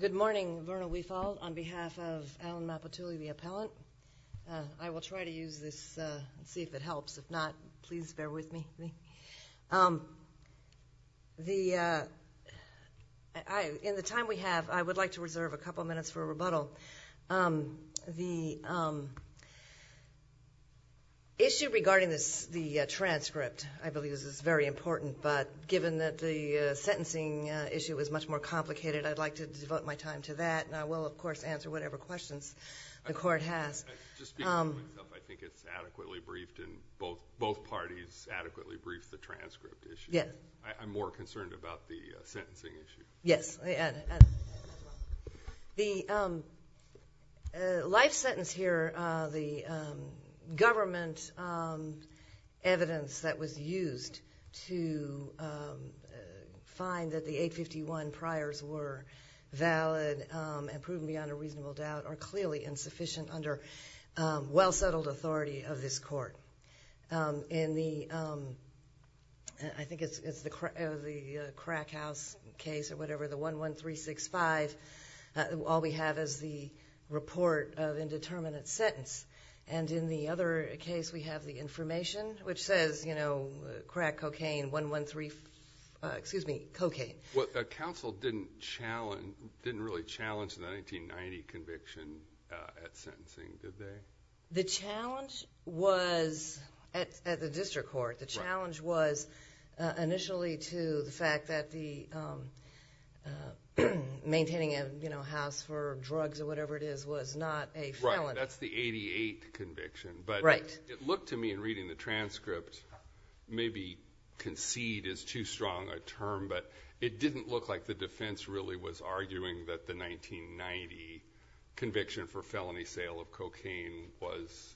Good morning, Verna Weefald. On behalf of Alan Mapuatuli, the appellant, I will try to use this and see if it helps. If not, please bear with me. In the time we have, I would like to reserve a couple of minutes for rebuttal. The issue regarding the transcript, I believe, is very important, but given that the sentencing issue is much more complicated, I'd like to devote my time to that. I will, of course, answer whatever questions the Court has. I think it's adequately briefed, and both parties adequately briefed the transcript issue. I'm more concerned about the sentencing issue. Yes. The life sentence here, the government evidence that was used to find that the 851 priors were valid and proven beyond a reasonable doubt, are clearly insufficient under well-settled authority of this Court. In the, I think it's the Crack House case or whatever, the 11365, all we have is the report of indeterminate sentence. And in the other case, we have the information, which says, you know, crack cocaine, 113, excuse me, cocaine. Well, the counsel didn't challenge, didn't really challenge the 1990 conviction at sentencing, did they? The challenge was, at the district court, the challenge was initially to the fact that the maintaining a, you know, house for drugs or whatever it is was not a felony. Right. That's the 88 conviction. Right. It looked to me in reading the transcript, maybe concede is too strong a term, but it didn't look like the defense really was arguing that the 1990 conviction for felony sale of cocaine was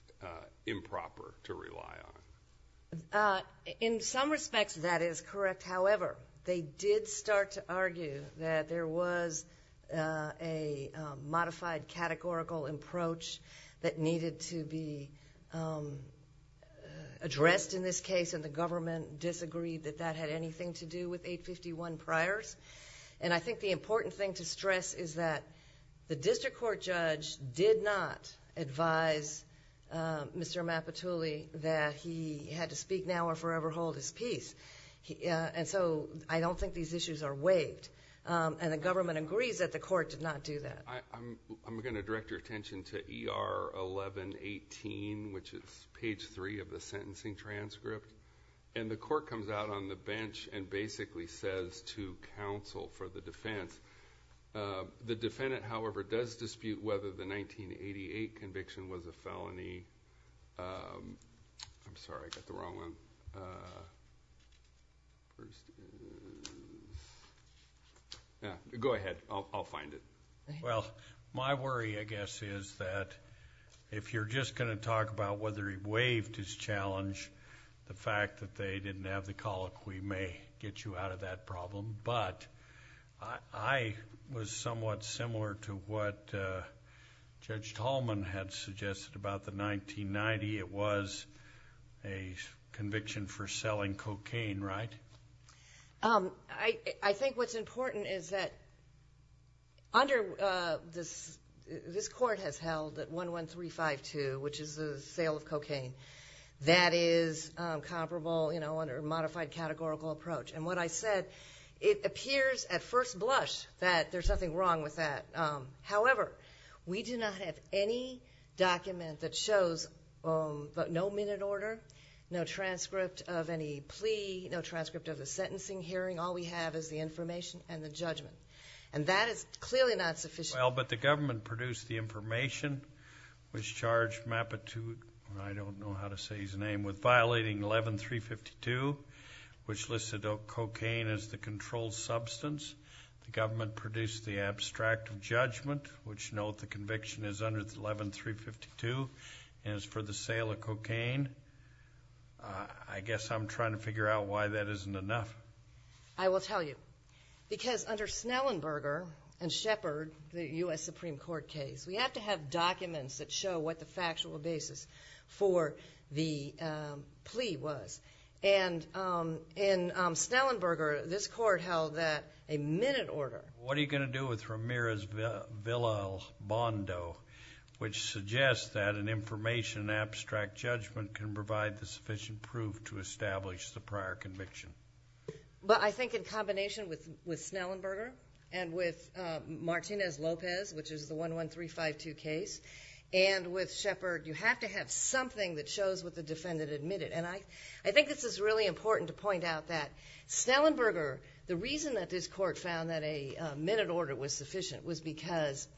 improper to rely on. In some respects, that is correct. However, they did start to argue that there was a modified categorical approach that needed to be addressed in this case, and the government disagreed that that had anything to do with 851 priors. And I think the important thing to stress is that the district court judge did not advise Mr. Mapatuli that he had to speak now or forever hold his peace. And so I don't think these issues are waived. And the government agrees that the court did not do that. I'm going to direct your attention to ER 1118, which is page three of the sentencing transcript. And the court comes out on the bench and basically says to counsel for the defense, the defendant, however, does dispute whether the 1988 conviction was a felony. I'm sorry, I got the wrong one. Yeah, go ahead. I'll find it. Well, my worry, I guess, is that if you're just going to talk about whether he waived his challenge, the fact that they didn't have the colloquy may get you out of that problem. But I was somewhat similar to what Judge Tallman had suggested about the 1990. It was a conviction for selling cocaine, right? I think what's important is that under this court has held that 11352, which is the sale of cocaine, that is comparable, you know, under a modified categorical approach. And what I said, it appears at first blush that there's nothing wrong with that. However, we do not have any document that shows no minute order, no transcript of any plea, no transcript of the sentencing hearing. All we have is the information and the judgment. And that is clearly not sufficient. Well, but the government produced the information, which charged Mapitude, I don't know how to say his name, with violating 11352, which listed cocaine as the controlled substance. The government produced the abstract judgment, which note the conviction is under 11352 and is for the sale of cocaine. I guess I'm trying to figure out why that isn't enough. I will tell you. Because under Snellenberger and Shepard, the U.S. Supreme Court case, we have to have documents that show what the factual basis for the plea was. And in Snellenberger, this court held that a minute order. What are you going to do with Ramirez-Villalbando, which suggests that an information abstract judgment can provide the sufficient proof to establish the prior conviction? Well, I think in combination with Snellenberger and with Martinez-Lopez, which is the 11352 case, and with Shepard, you have to have something that shows what the defendant admitted. And I think this is really important to point out that Snellenberger, the reason that this court found that a minute order was sufficient was because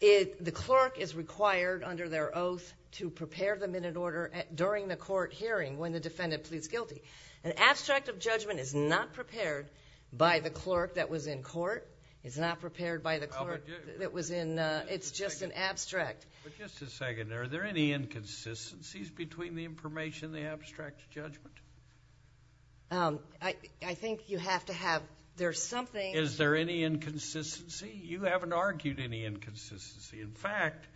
the clerk is required under their oath to prepare the minute order during the court hearing when the defendant pleads guilty. An abstract of judgment is not prepared by the clerk that was in court. It's not prepared by the clerk that was in. It's just an abstract. But just a second. Are there any inconsistencies between the information and the abstract judgment? I think you have to have there's something. Is there any inconsistency? You haven't argued any inconsistency. In fact,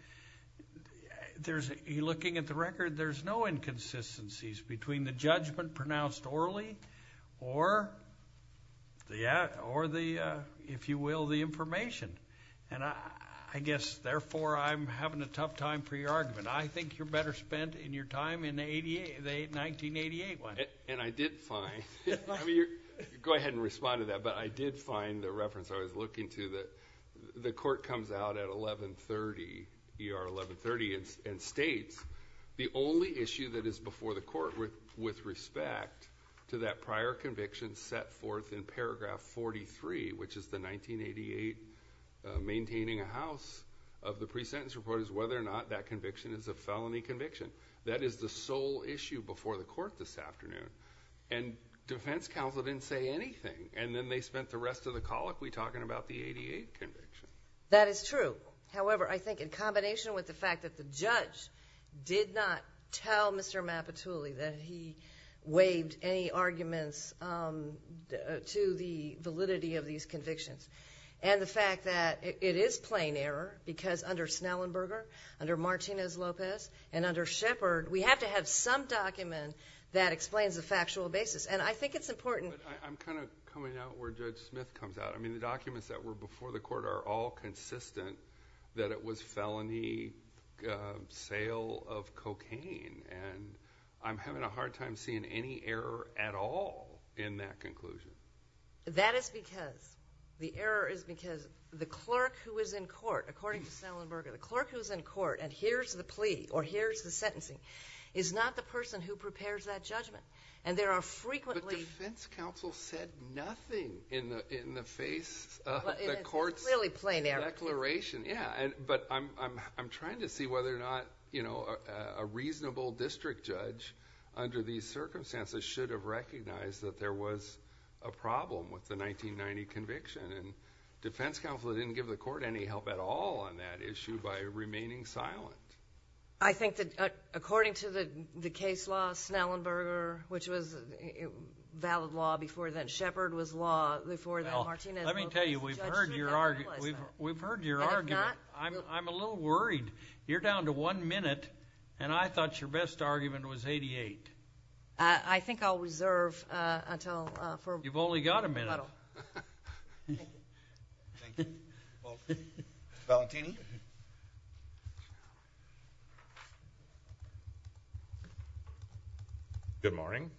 looking at the record, there's no inconsistencies between the judgment pronounced orally or the, if you will, the information. And I guess, therefore, I'm having a tough time for your argument. I think you're better spent in your time in the 1988 one. Go ahead and respond to that. But I did find the reference I was looking to that the court comes out at 1130, ER 1130, and states the only issue that is before the court with respect to that prior conviction set forth in paragraph 43, which is the 1988 maintaining a house of the pre-sentence report, is whether or not that conviction is a felony conviction. That is the sole issue before the court this afternoon. And defense counsel didn't say anything. And then they spent the rest of the colloquy talking about the 1988 conviction. That is true. However, I think in combination with the fact that the judge did not tell Mr. Mapatulli that he waived any arguments to the validity of these convictions, and the fact that it is plain error because under Snellenberger, under Martinez-Lopez, and under Shepard, we have to have some document that explains the factual basis. And I think it's important. I'm kind of coming out where Judge Smith comes out. I mean, the documents that were before the court are all consistent that it was felony sale of cocaine. And I'm having a hard time seeing any error at all in that conclusion. That is because the error is because the clerk who is in court, according to Snellenberger, the clerk who is in court and hears the plea or hears the sentencing is not the person who prepares that judgment. But defense counsel said nothing in the face of the court's declaration. But I'm trying to see whether or not a reasonable district judge under these circumstances should have recognized that there was a problem with the 1990 conviction. And defense counsel didn't give the court any help at all on that issue by remaining silent. I think that according to the case law, Snellenberger, which was valid law before then, Shepard was law before then, Martinez-Lopez. Well, let me tell you, we've heard your argument. We've heard your argument. I have not. I'm a little worried. You're down to one minute, and I thought your best argument was 88. You've only got a minute. Thank you. Well, Valentini? Good morning.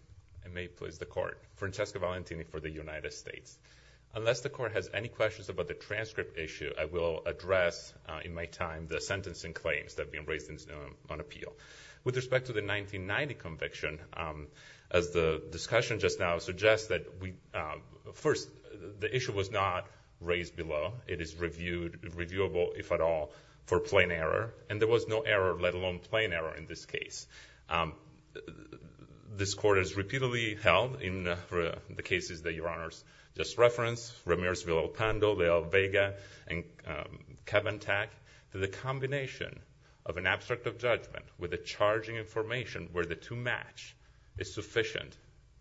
I may please the court. Francesco Valentini for the United States. Unless the court has any questions about the transcript issue, I will address in my time the sentencing claims that have been raised on appeal. With respect to the 1990 conviction, as the discussion just now suggests, first, the issue was not raised below. It is reviewable, if at all, for plain error. And there was no error, let alone plain error, in this case. This court has repeatedly held, in the cases that Your Honors just referenced, Ramirez-Villalpando, Villalvega, and Cavantag, that the combination of an abstract of judgment with a charging information where the two match is sufficient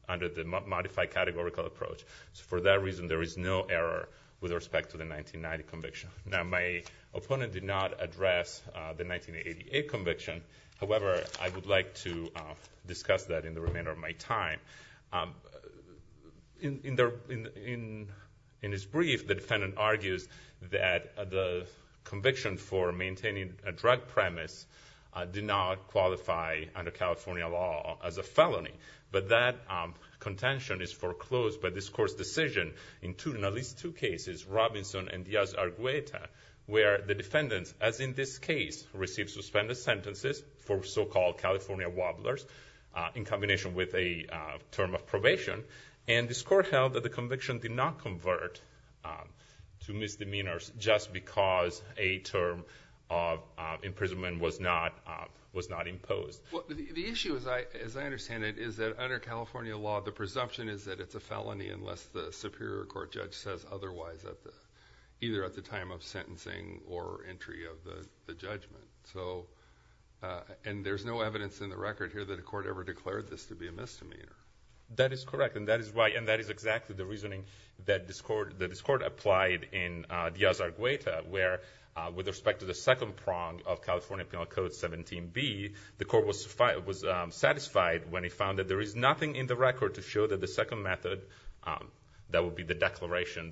under the modified categorical approach. So for that reason, there is no error with respect to the 1990 conviction. Now, my opponent did not address the 1988 conviction. However, I would like to discuss that in the remainder of my time. In his brief, the defendant argues that the conviction for maintaining a drug premise did not qualify under California law as a felony. But that contention is foreclosed by this court's decision in at least two cases, Robinson and Diaz-Argueta, where the defendants, as in this case, received suspended sentences for so-called California wobblers in combination with a term of probation. And this court held that the conviction did not convert to misdemeanors just because a term of imprisonment was not imposed. The issue, as I understand it, is that under California law, the presumption is that it's a felony unless the superior court judge says otherwise, either at the time of sentencing or entry of the judgment. And there's no evidence in the record here that a court ever declared this to be a misdemeanor. That is correct, and that is exactly the reasoning that this court applied in Diaz-Argueta, where with respect to the second prong of California Penal Code 17B, the court was satisfied when it found that there is nothing in the record to show that the second method, that would be the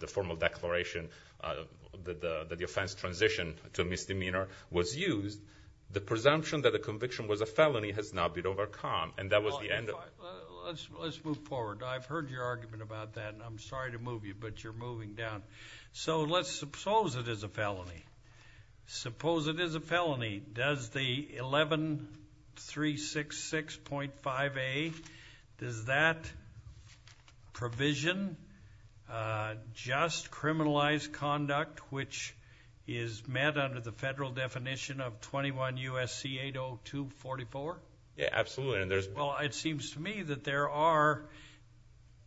formal declaration that the offense transitioned to a misdemeanor, was used. The presumption that the conviction was a felony has now been overcome, and that was the end of- Let's move forward. I've heard your argument about that, and I'm sorry to move you, but you're moving down. So let's suppose it is a felony. Suppose it is a felony. Does the 11366.5A, does that provision just criminalized conduct, which is met under the federal definition of 21 U.S.C. 80244? Yeah, absolutely. Well, it seems to me that there are,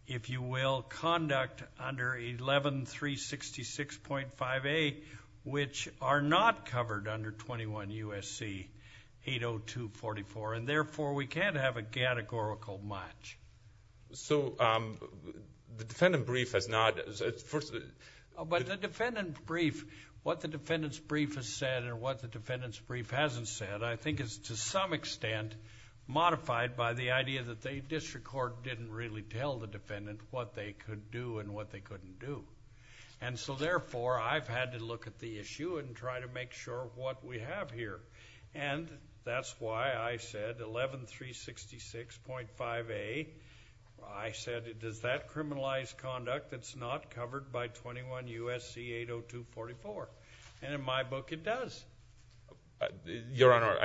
if you will, conduct under 11366.5A, which are not covered under 21 U.S.C. 80244, and therefore we can't have a categorical match. So the defendant brief has not- But the defendant brief, what the defendant's brief has said and what the defendant's brief hasn't said, I think is to some extent modified by the idea that the district court didn't really tell the defendant what they could do and what they couldn't do. And so therefore, I've had to look at the issue and try to make sure what we have here. And that's why I said 11366.5A, I said, does that criminalize conduct that's not covered by 21 U.S.C. 80244? And in my book, it does. Your Honor,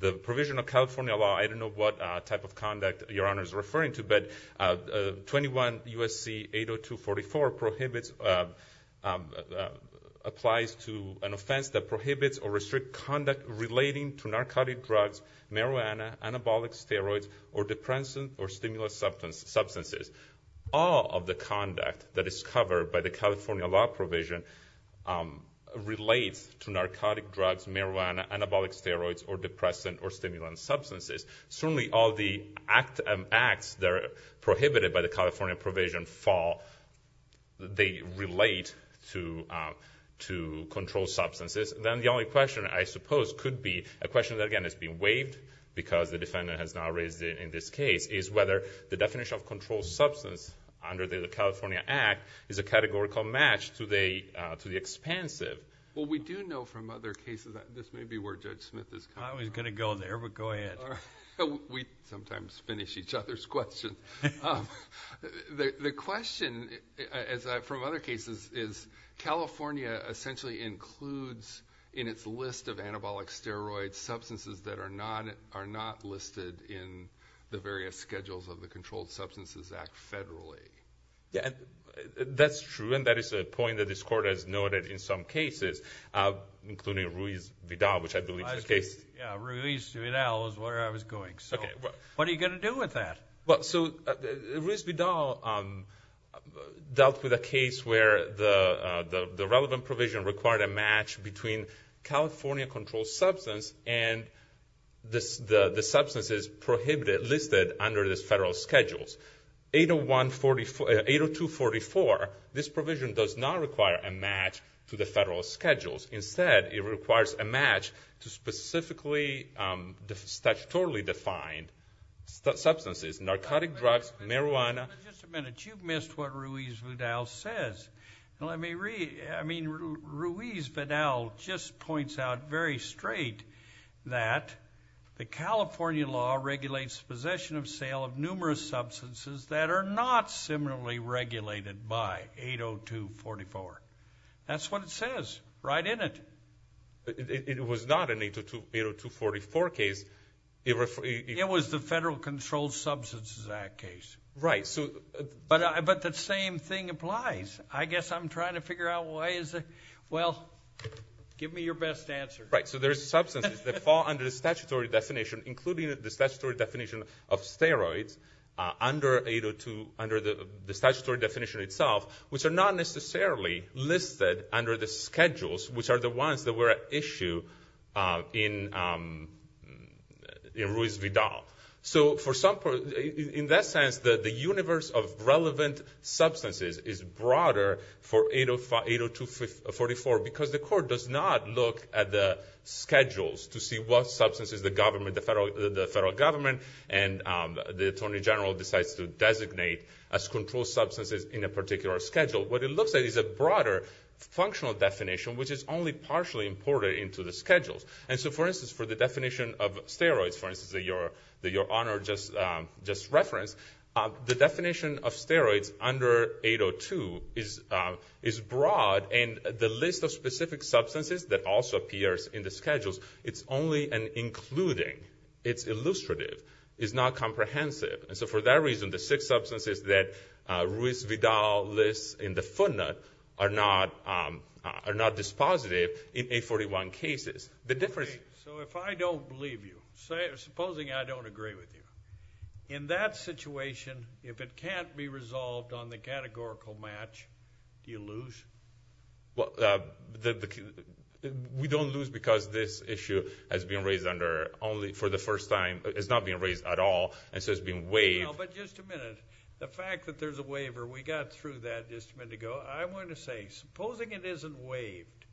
the provision of California law, I don't know what type of conduct Your Honor is referring to, but 21 U.S.C. 80244 applies to an offense that prohibits or restricts conduct relating to narcotic drugs, marijuana, anabolic steroids, or depressants or stimulus substances. All of the conduct that is covered by the California law provision relates to narcotic drugs, marijuana, anabolic steroids, or depressants or stimulant substances. Certainly all the acts that are prohibited by the California provision fall, they relate to controlled substances. Then the only question I suppose could be, a question that again has been waived because the defendant has now raised it in this case, is whether the definition of controlled substance under the California Act is a categorical match to the expansive. Well, we do know from other cases, this may be where Judge Smith is coming from. I was going to go there, but go ahead. We sometimes finish each other's questions. The question from other cases is California essentially includes in its list of anabolic steroids substances that are not listed in the various schedules of the Controlled Substances Act federally. That's true, and that is a point that this Court has noted in some cases, including Ruiz Vidal, which I believe is the case. Ruiz Vidal is where I was going. What are you going to do with that? Ruiz Vidal dealt with a case where the relevant provision required a match between California controlled substance and the substances prohibited listed under the federal schedules. 802.44, this provision does not require a match to the federal schedules. Instead, it requires a match to specifically statutorily defined substances, narcotic drugs, marijuana. Just a minute. You've missed what Ruiz Vidal says. Ruiz Vidal just points out very straight that the California law regulates possession of sale of numerous substances that are not similarly regulated by 802.44. That's what it says right in it. It was not an 802.44 case. It was the Federal Controlled Substances Act case. Right. But the same thing applies. I guess I'm trying to figure out why is it. Well, give me your best answer. Right, so there's substances that fall under the statutory definition, including the statutory definition of steroids under the statutory definition itself, which are not necessarily listed under the schedules, which are the ones that were at issue in Ruiz Vidal. So in that sense, the universe of relevant substances is broader for 802.44 because the court does not look at the schedules to see what substances the federal government and the attorney general decides to designate as controlled substances in a particular schedule. What it looks at is a broader functional definition, which is only partially imported into the schedules. And so, for instance, for the definition of steroids, for instance, that Your Honor just referenced, the definition of steroids under 802 is broad. And the list of specific substances that also appears in the schedules, it's only an including. It's illustrative. It's not comprehensive. And so for that reason, the six substances that Ruiz Vidal lists in the footnote are not dispositive in 841 cases. So if I don't believe you, supposing I don't agree with you, in that situation, if it can't be resolved on the categorical match, do you lose? Well, we don't lose because this issue has been raised under only for the first time. It's not being raised at all, and so it's being waived. No, but just a minute. The fact that there's a waiver, we got through that just a minute ago. I want to say, supposing it isn't waived,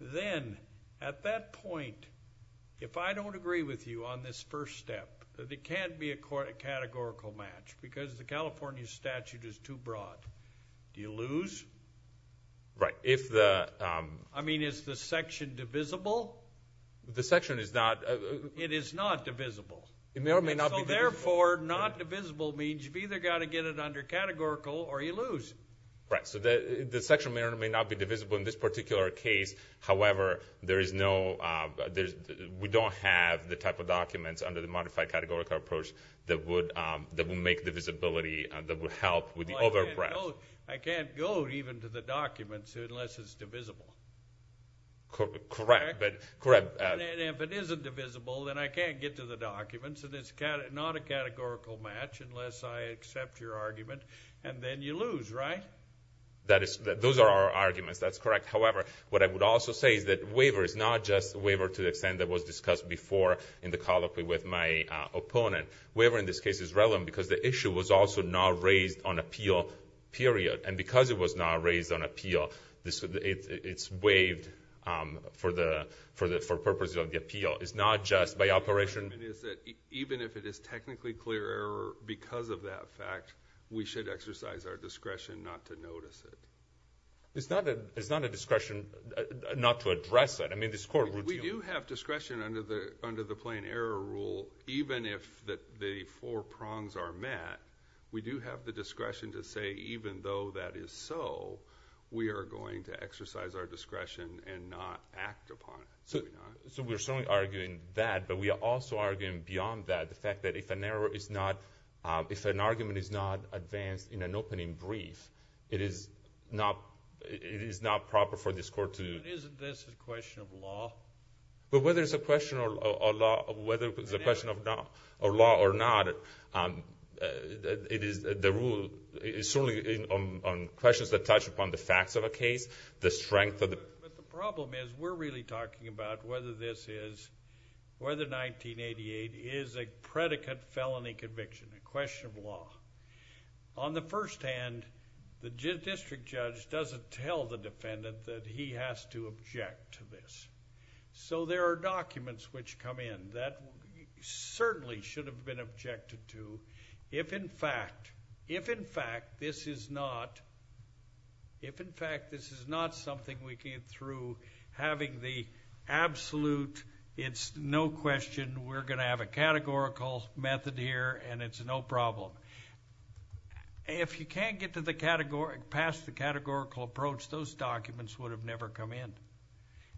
then at that point, if I don't agree with you on this first step, that it can't be a categorical match because the California statute is too broad. Do you lose? Right. I mean, is the section divisible? The section is not. It is not divisible. It may or may not be divisible. So therefore, not divisible means you've either got to get it under categorical or you lose. Right. So the section may or may not be divisible in this particular case. However, we don't have the type of documents under the modified categorical approach that would make divisibility, that would help with the overbreadth. I can't go even to the documents unless it's divisible. Correct. And if it isn't divisible, then I can't get to the documents, and it's not a categorical match unless I accept your argument, and then you lose, right? Those are our arguments. That's correct. However, what I would also say is that waiver is not just waiver to the extent that was discussed before in the colloquy with my opponent. Waiver in this case is relevant because the issue was also not raised on appeal, period. And because it was not raised on appeal, it's waived for purposes of the appeal. It's not just by operation. Even if it is technically clear error because of that fact, we should exercise our discretion not to notice it. It's not a discretion not to address it. I mean, this court routinely... We do have discretion under the plain error rule. Even if the four prongs are met, we do have the discretion to say even though that is so, we are going to exercise our discretion and not act upon it. So we're certainly arguing that, but we are also arguing beyond that, the fact that if an error is not... if an argument is not advanced in an opening brief, it is not proper for this court to... But isn't this a question of law? But whether it's a question of law or not, the rule is certainly on questions that touch upon the facts of a case, the strength of the... But the problem is we're really talking about whether this is... whether 1988 is a predicate felony conviction, a question of law. On the first hand, the district judge doesn't tell the defendant that he has to object to this. So there are documents which come in that certainly should have been objected to. If in fact... if in fact this is not... if in fact this is not something we came through having the absolute, it's no question, we're going to have a categorical method here and it's no problem. If you can't get to the category... pass the categorical approach, those documents would have never come in.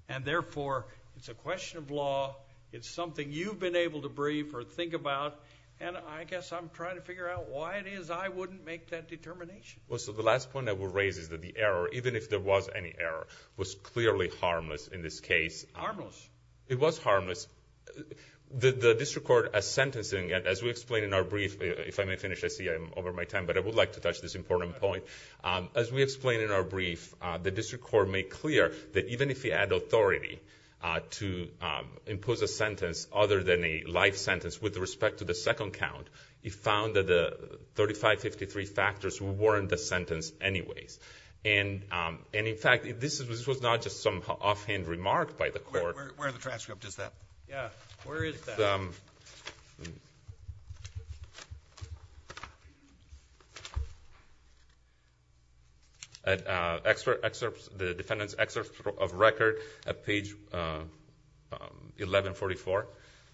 And therefore, it's a question of law. It's something you've been able to brief or think about. And I guess I'm trying to figure out why it is I wouldn't make that determination. Well, so the last point I will raise is that the error, even if there was any error, was clearly harmless in this case. Harmless? It was harmless. The district court, as sentencing, as we explained in our brief, if I may finish, I see I'm over my time, but I would like to touch this important point. As we explained in our brief, the district court made clear that even if you had authority to impose a sentence other than a life sentence with respect to the second count, it found that the 3553 factors weren't the sentence anyways. And in fact, this was not just some offhand remark by the court. Where in the transcript is that? Yeah, where is that? It's at the defendant's excerpt of record at page 1144.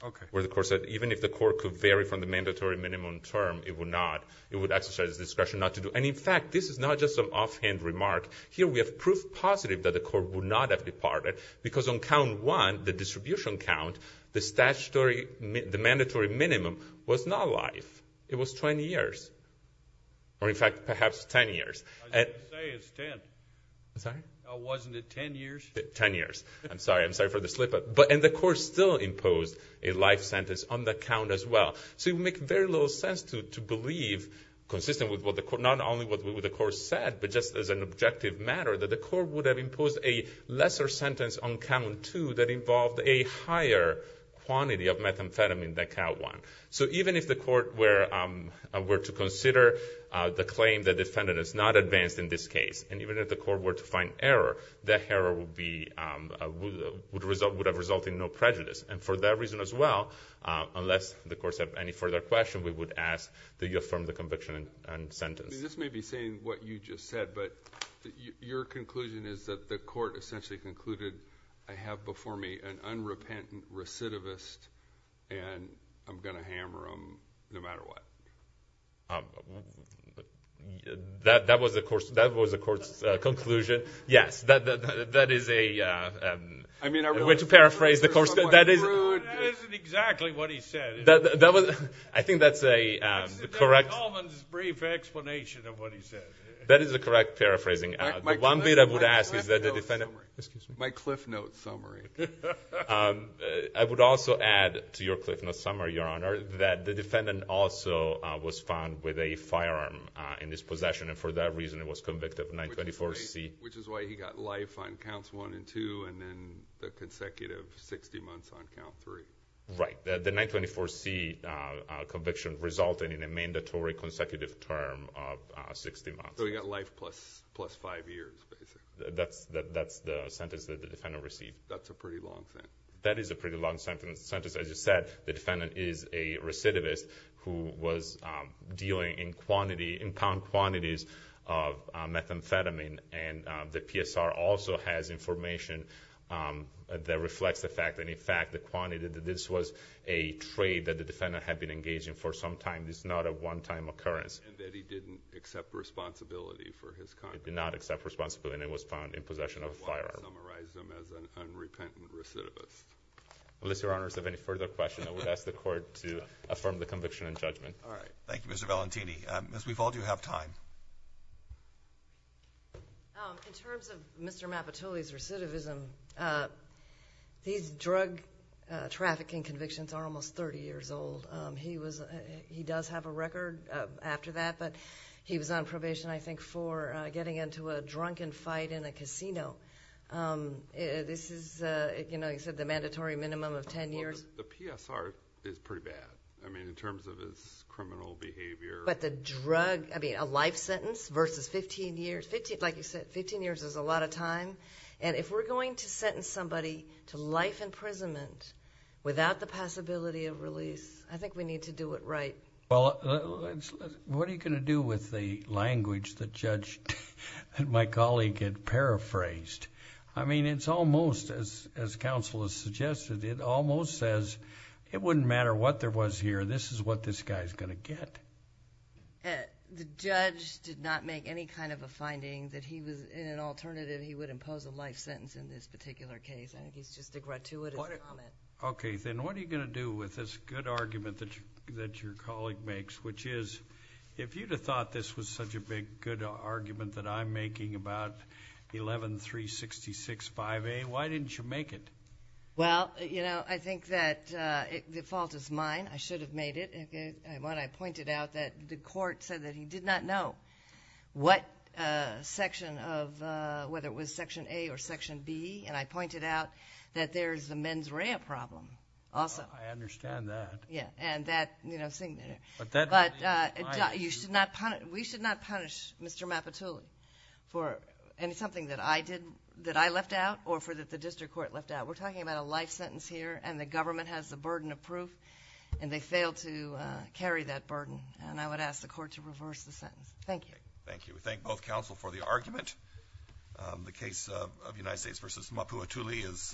Okay. Where the court said even if the court could vary from the mandatory minimum term, it would not. It would exercise discretion not to do. And in fact, this is not just some offhand remark. Here we have proof positive that the court would not have departed because on count one, the distribution count, the mandatory minimum was not life. It was 20 years. Or in fact, perhaps 10 years. I was going to say it's 10. I'm sorry? Wasn't it 10 years? 10 years. I'm sorry. I'm sorry for the slip-up. And the court still imposed a life sentence on that count as well. So it would make very little sense to believe, consistent with not only what the court said, but just as an objective matter, that the court would have imposed a lesser sentence on count two that involved a higher quantity of methamphetamine than count one. So even if the court were to consider the claim that the defendant is not advanced in this case, and even if the court were to find error, that error would have resulted in no prejudice. And for that reason as well, unless the courts have any further questions, we would ask that you affirm the conviction and sentence. This may be saying what you just said, but your conclusion is that the court essentially concluded, I have before me an unrepentant recidivist, and I'm going to hammer him no matter what. That was the court's conclusion. Yes. That is a way to paraphrase the court's conclusion. That isn't exactly what he said. I think that's a correct. That's Mr. Coleman's brief explanation of what he said. That is a correct paraphrasing. The one bit I would ask is that the defendant. My cliff note summary. I would also add to your cliff note summary, Your Honor, that the defendant also was found with a firearm in his possession, and for that reason he was convicted of 924C. Which is why he got life on counts one and two, and then the consecutive 60 months on count three. Right. The 924C conviction resulted in a mandatory consecutive term of 60 months. So he got life plus five years, basically. That's the sentence that the defendant received. That's a pretty long sentence. That is a pretty long sentence. As you said, the defendant is a recidivist who was dealing in pound quantities of methamphetamine, and the PSR also has information that reflects the fact, and in fact, the quantity that this was a trade that the defendant had been engaging for some time. This is not a one-time occurrence. And that he didn't accept responsibility for his conviction. He did not accept responsibility, and he was found in possession of a firearm. And that summarizes him as an unrepentant recidivist. Unless Your Honors have any further questions, I would ask the court to affirm the conviction and judgment. All right. Thank you, Mr. Valentini. Ms. Weeval, do you have time? In terms of Mr. Mappatulli's recidivism, these drug trafficking convictions are almost 30 years old. He does have a record after that, but he was on probation, I think, for getting into a drunken fight in a casino. This is, you know, you said the mandatory minimum of 10 years. The PSR is pretty bad. I mean, in terms of his criminal behavior. But the drug, I mean, a life sentence versus 15 years. Like you said, 15 years is a lot of time. And if we're going to sentence somebody to life imprisonment without the possibility of release, I think we need to do it right. Well, what are you going to do with the language that Judge and my colleague had paraphrased? I mean, it's almost, as counsel has suggested, it almost says it wouldn't matter what there was here. This is what this guy is going to get. The judge did not make any kind of a finding that he was in an alternative he would impose a life sentence in this particular case. I think it's just a gratuitous comment. Okay. Then what are you going to do with this good argument that your colleague makes, which is if you'd have thought this was such a big, good argument that I'm making about 11-366-5A, why didn't you make it? Well, you know, I think that the fault is mine. I should have made it. When I pointed out that the court said that he did not know what section of, whether it was Section A or Section B, and I pointed out that there's a mens rea problem also. I understand that. Yeah, and that, you know, but we should not punish Mr. Mapatula for something that I left out or that the district court left out. We're talking about a life sentence here and the government has the burden of proof and they failed to carry that burden, and I would ask the court to reverse the sentence. Thank you. Thank you. We thank both counsel for the argument. The case of United States v. Mapatula is adjourned.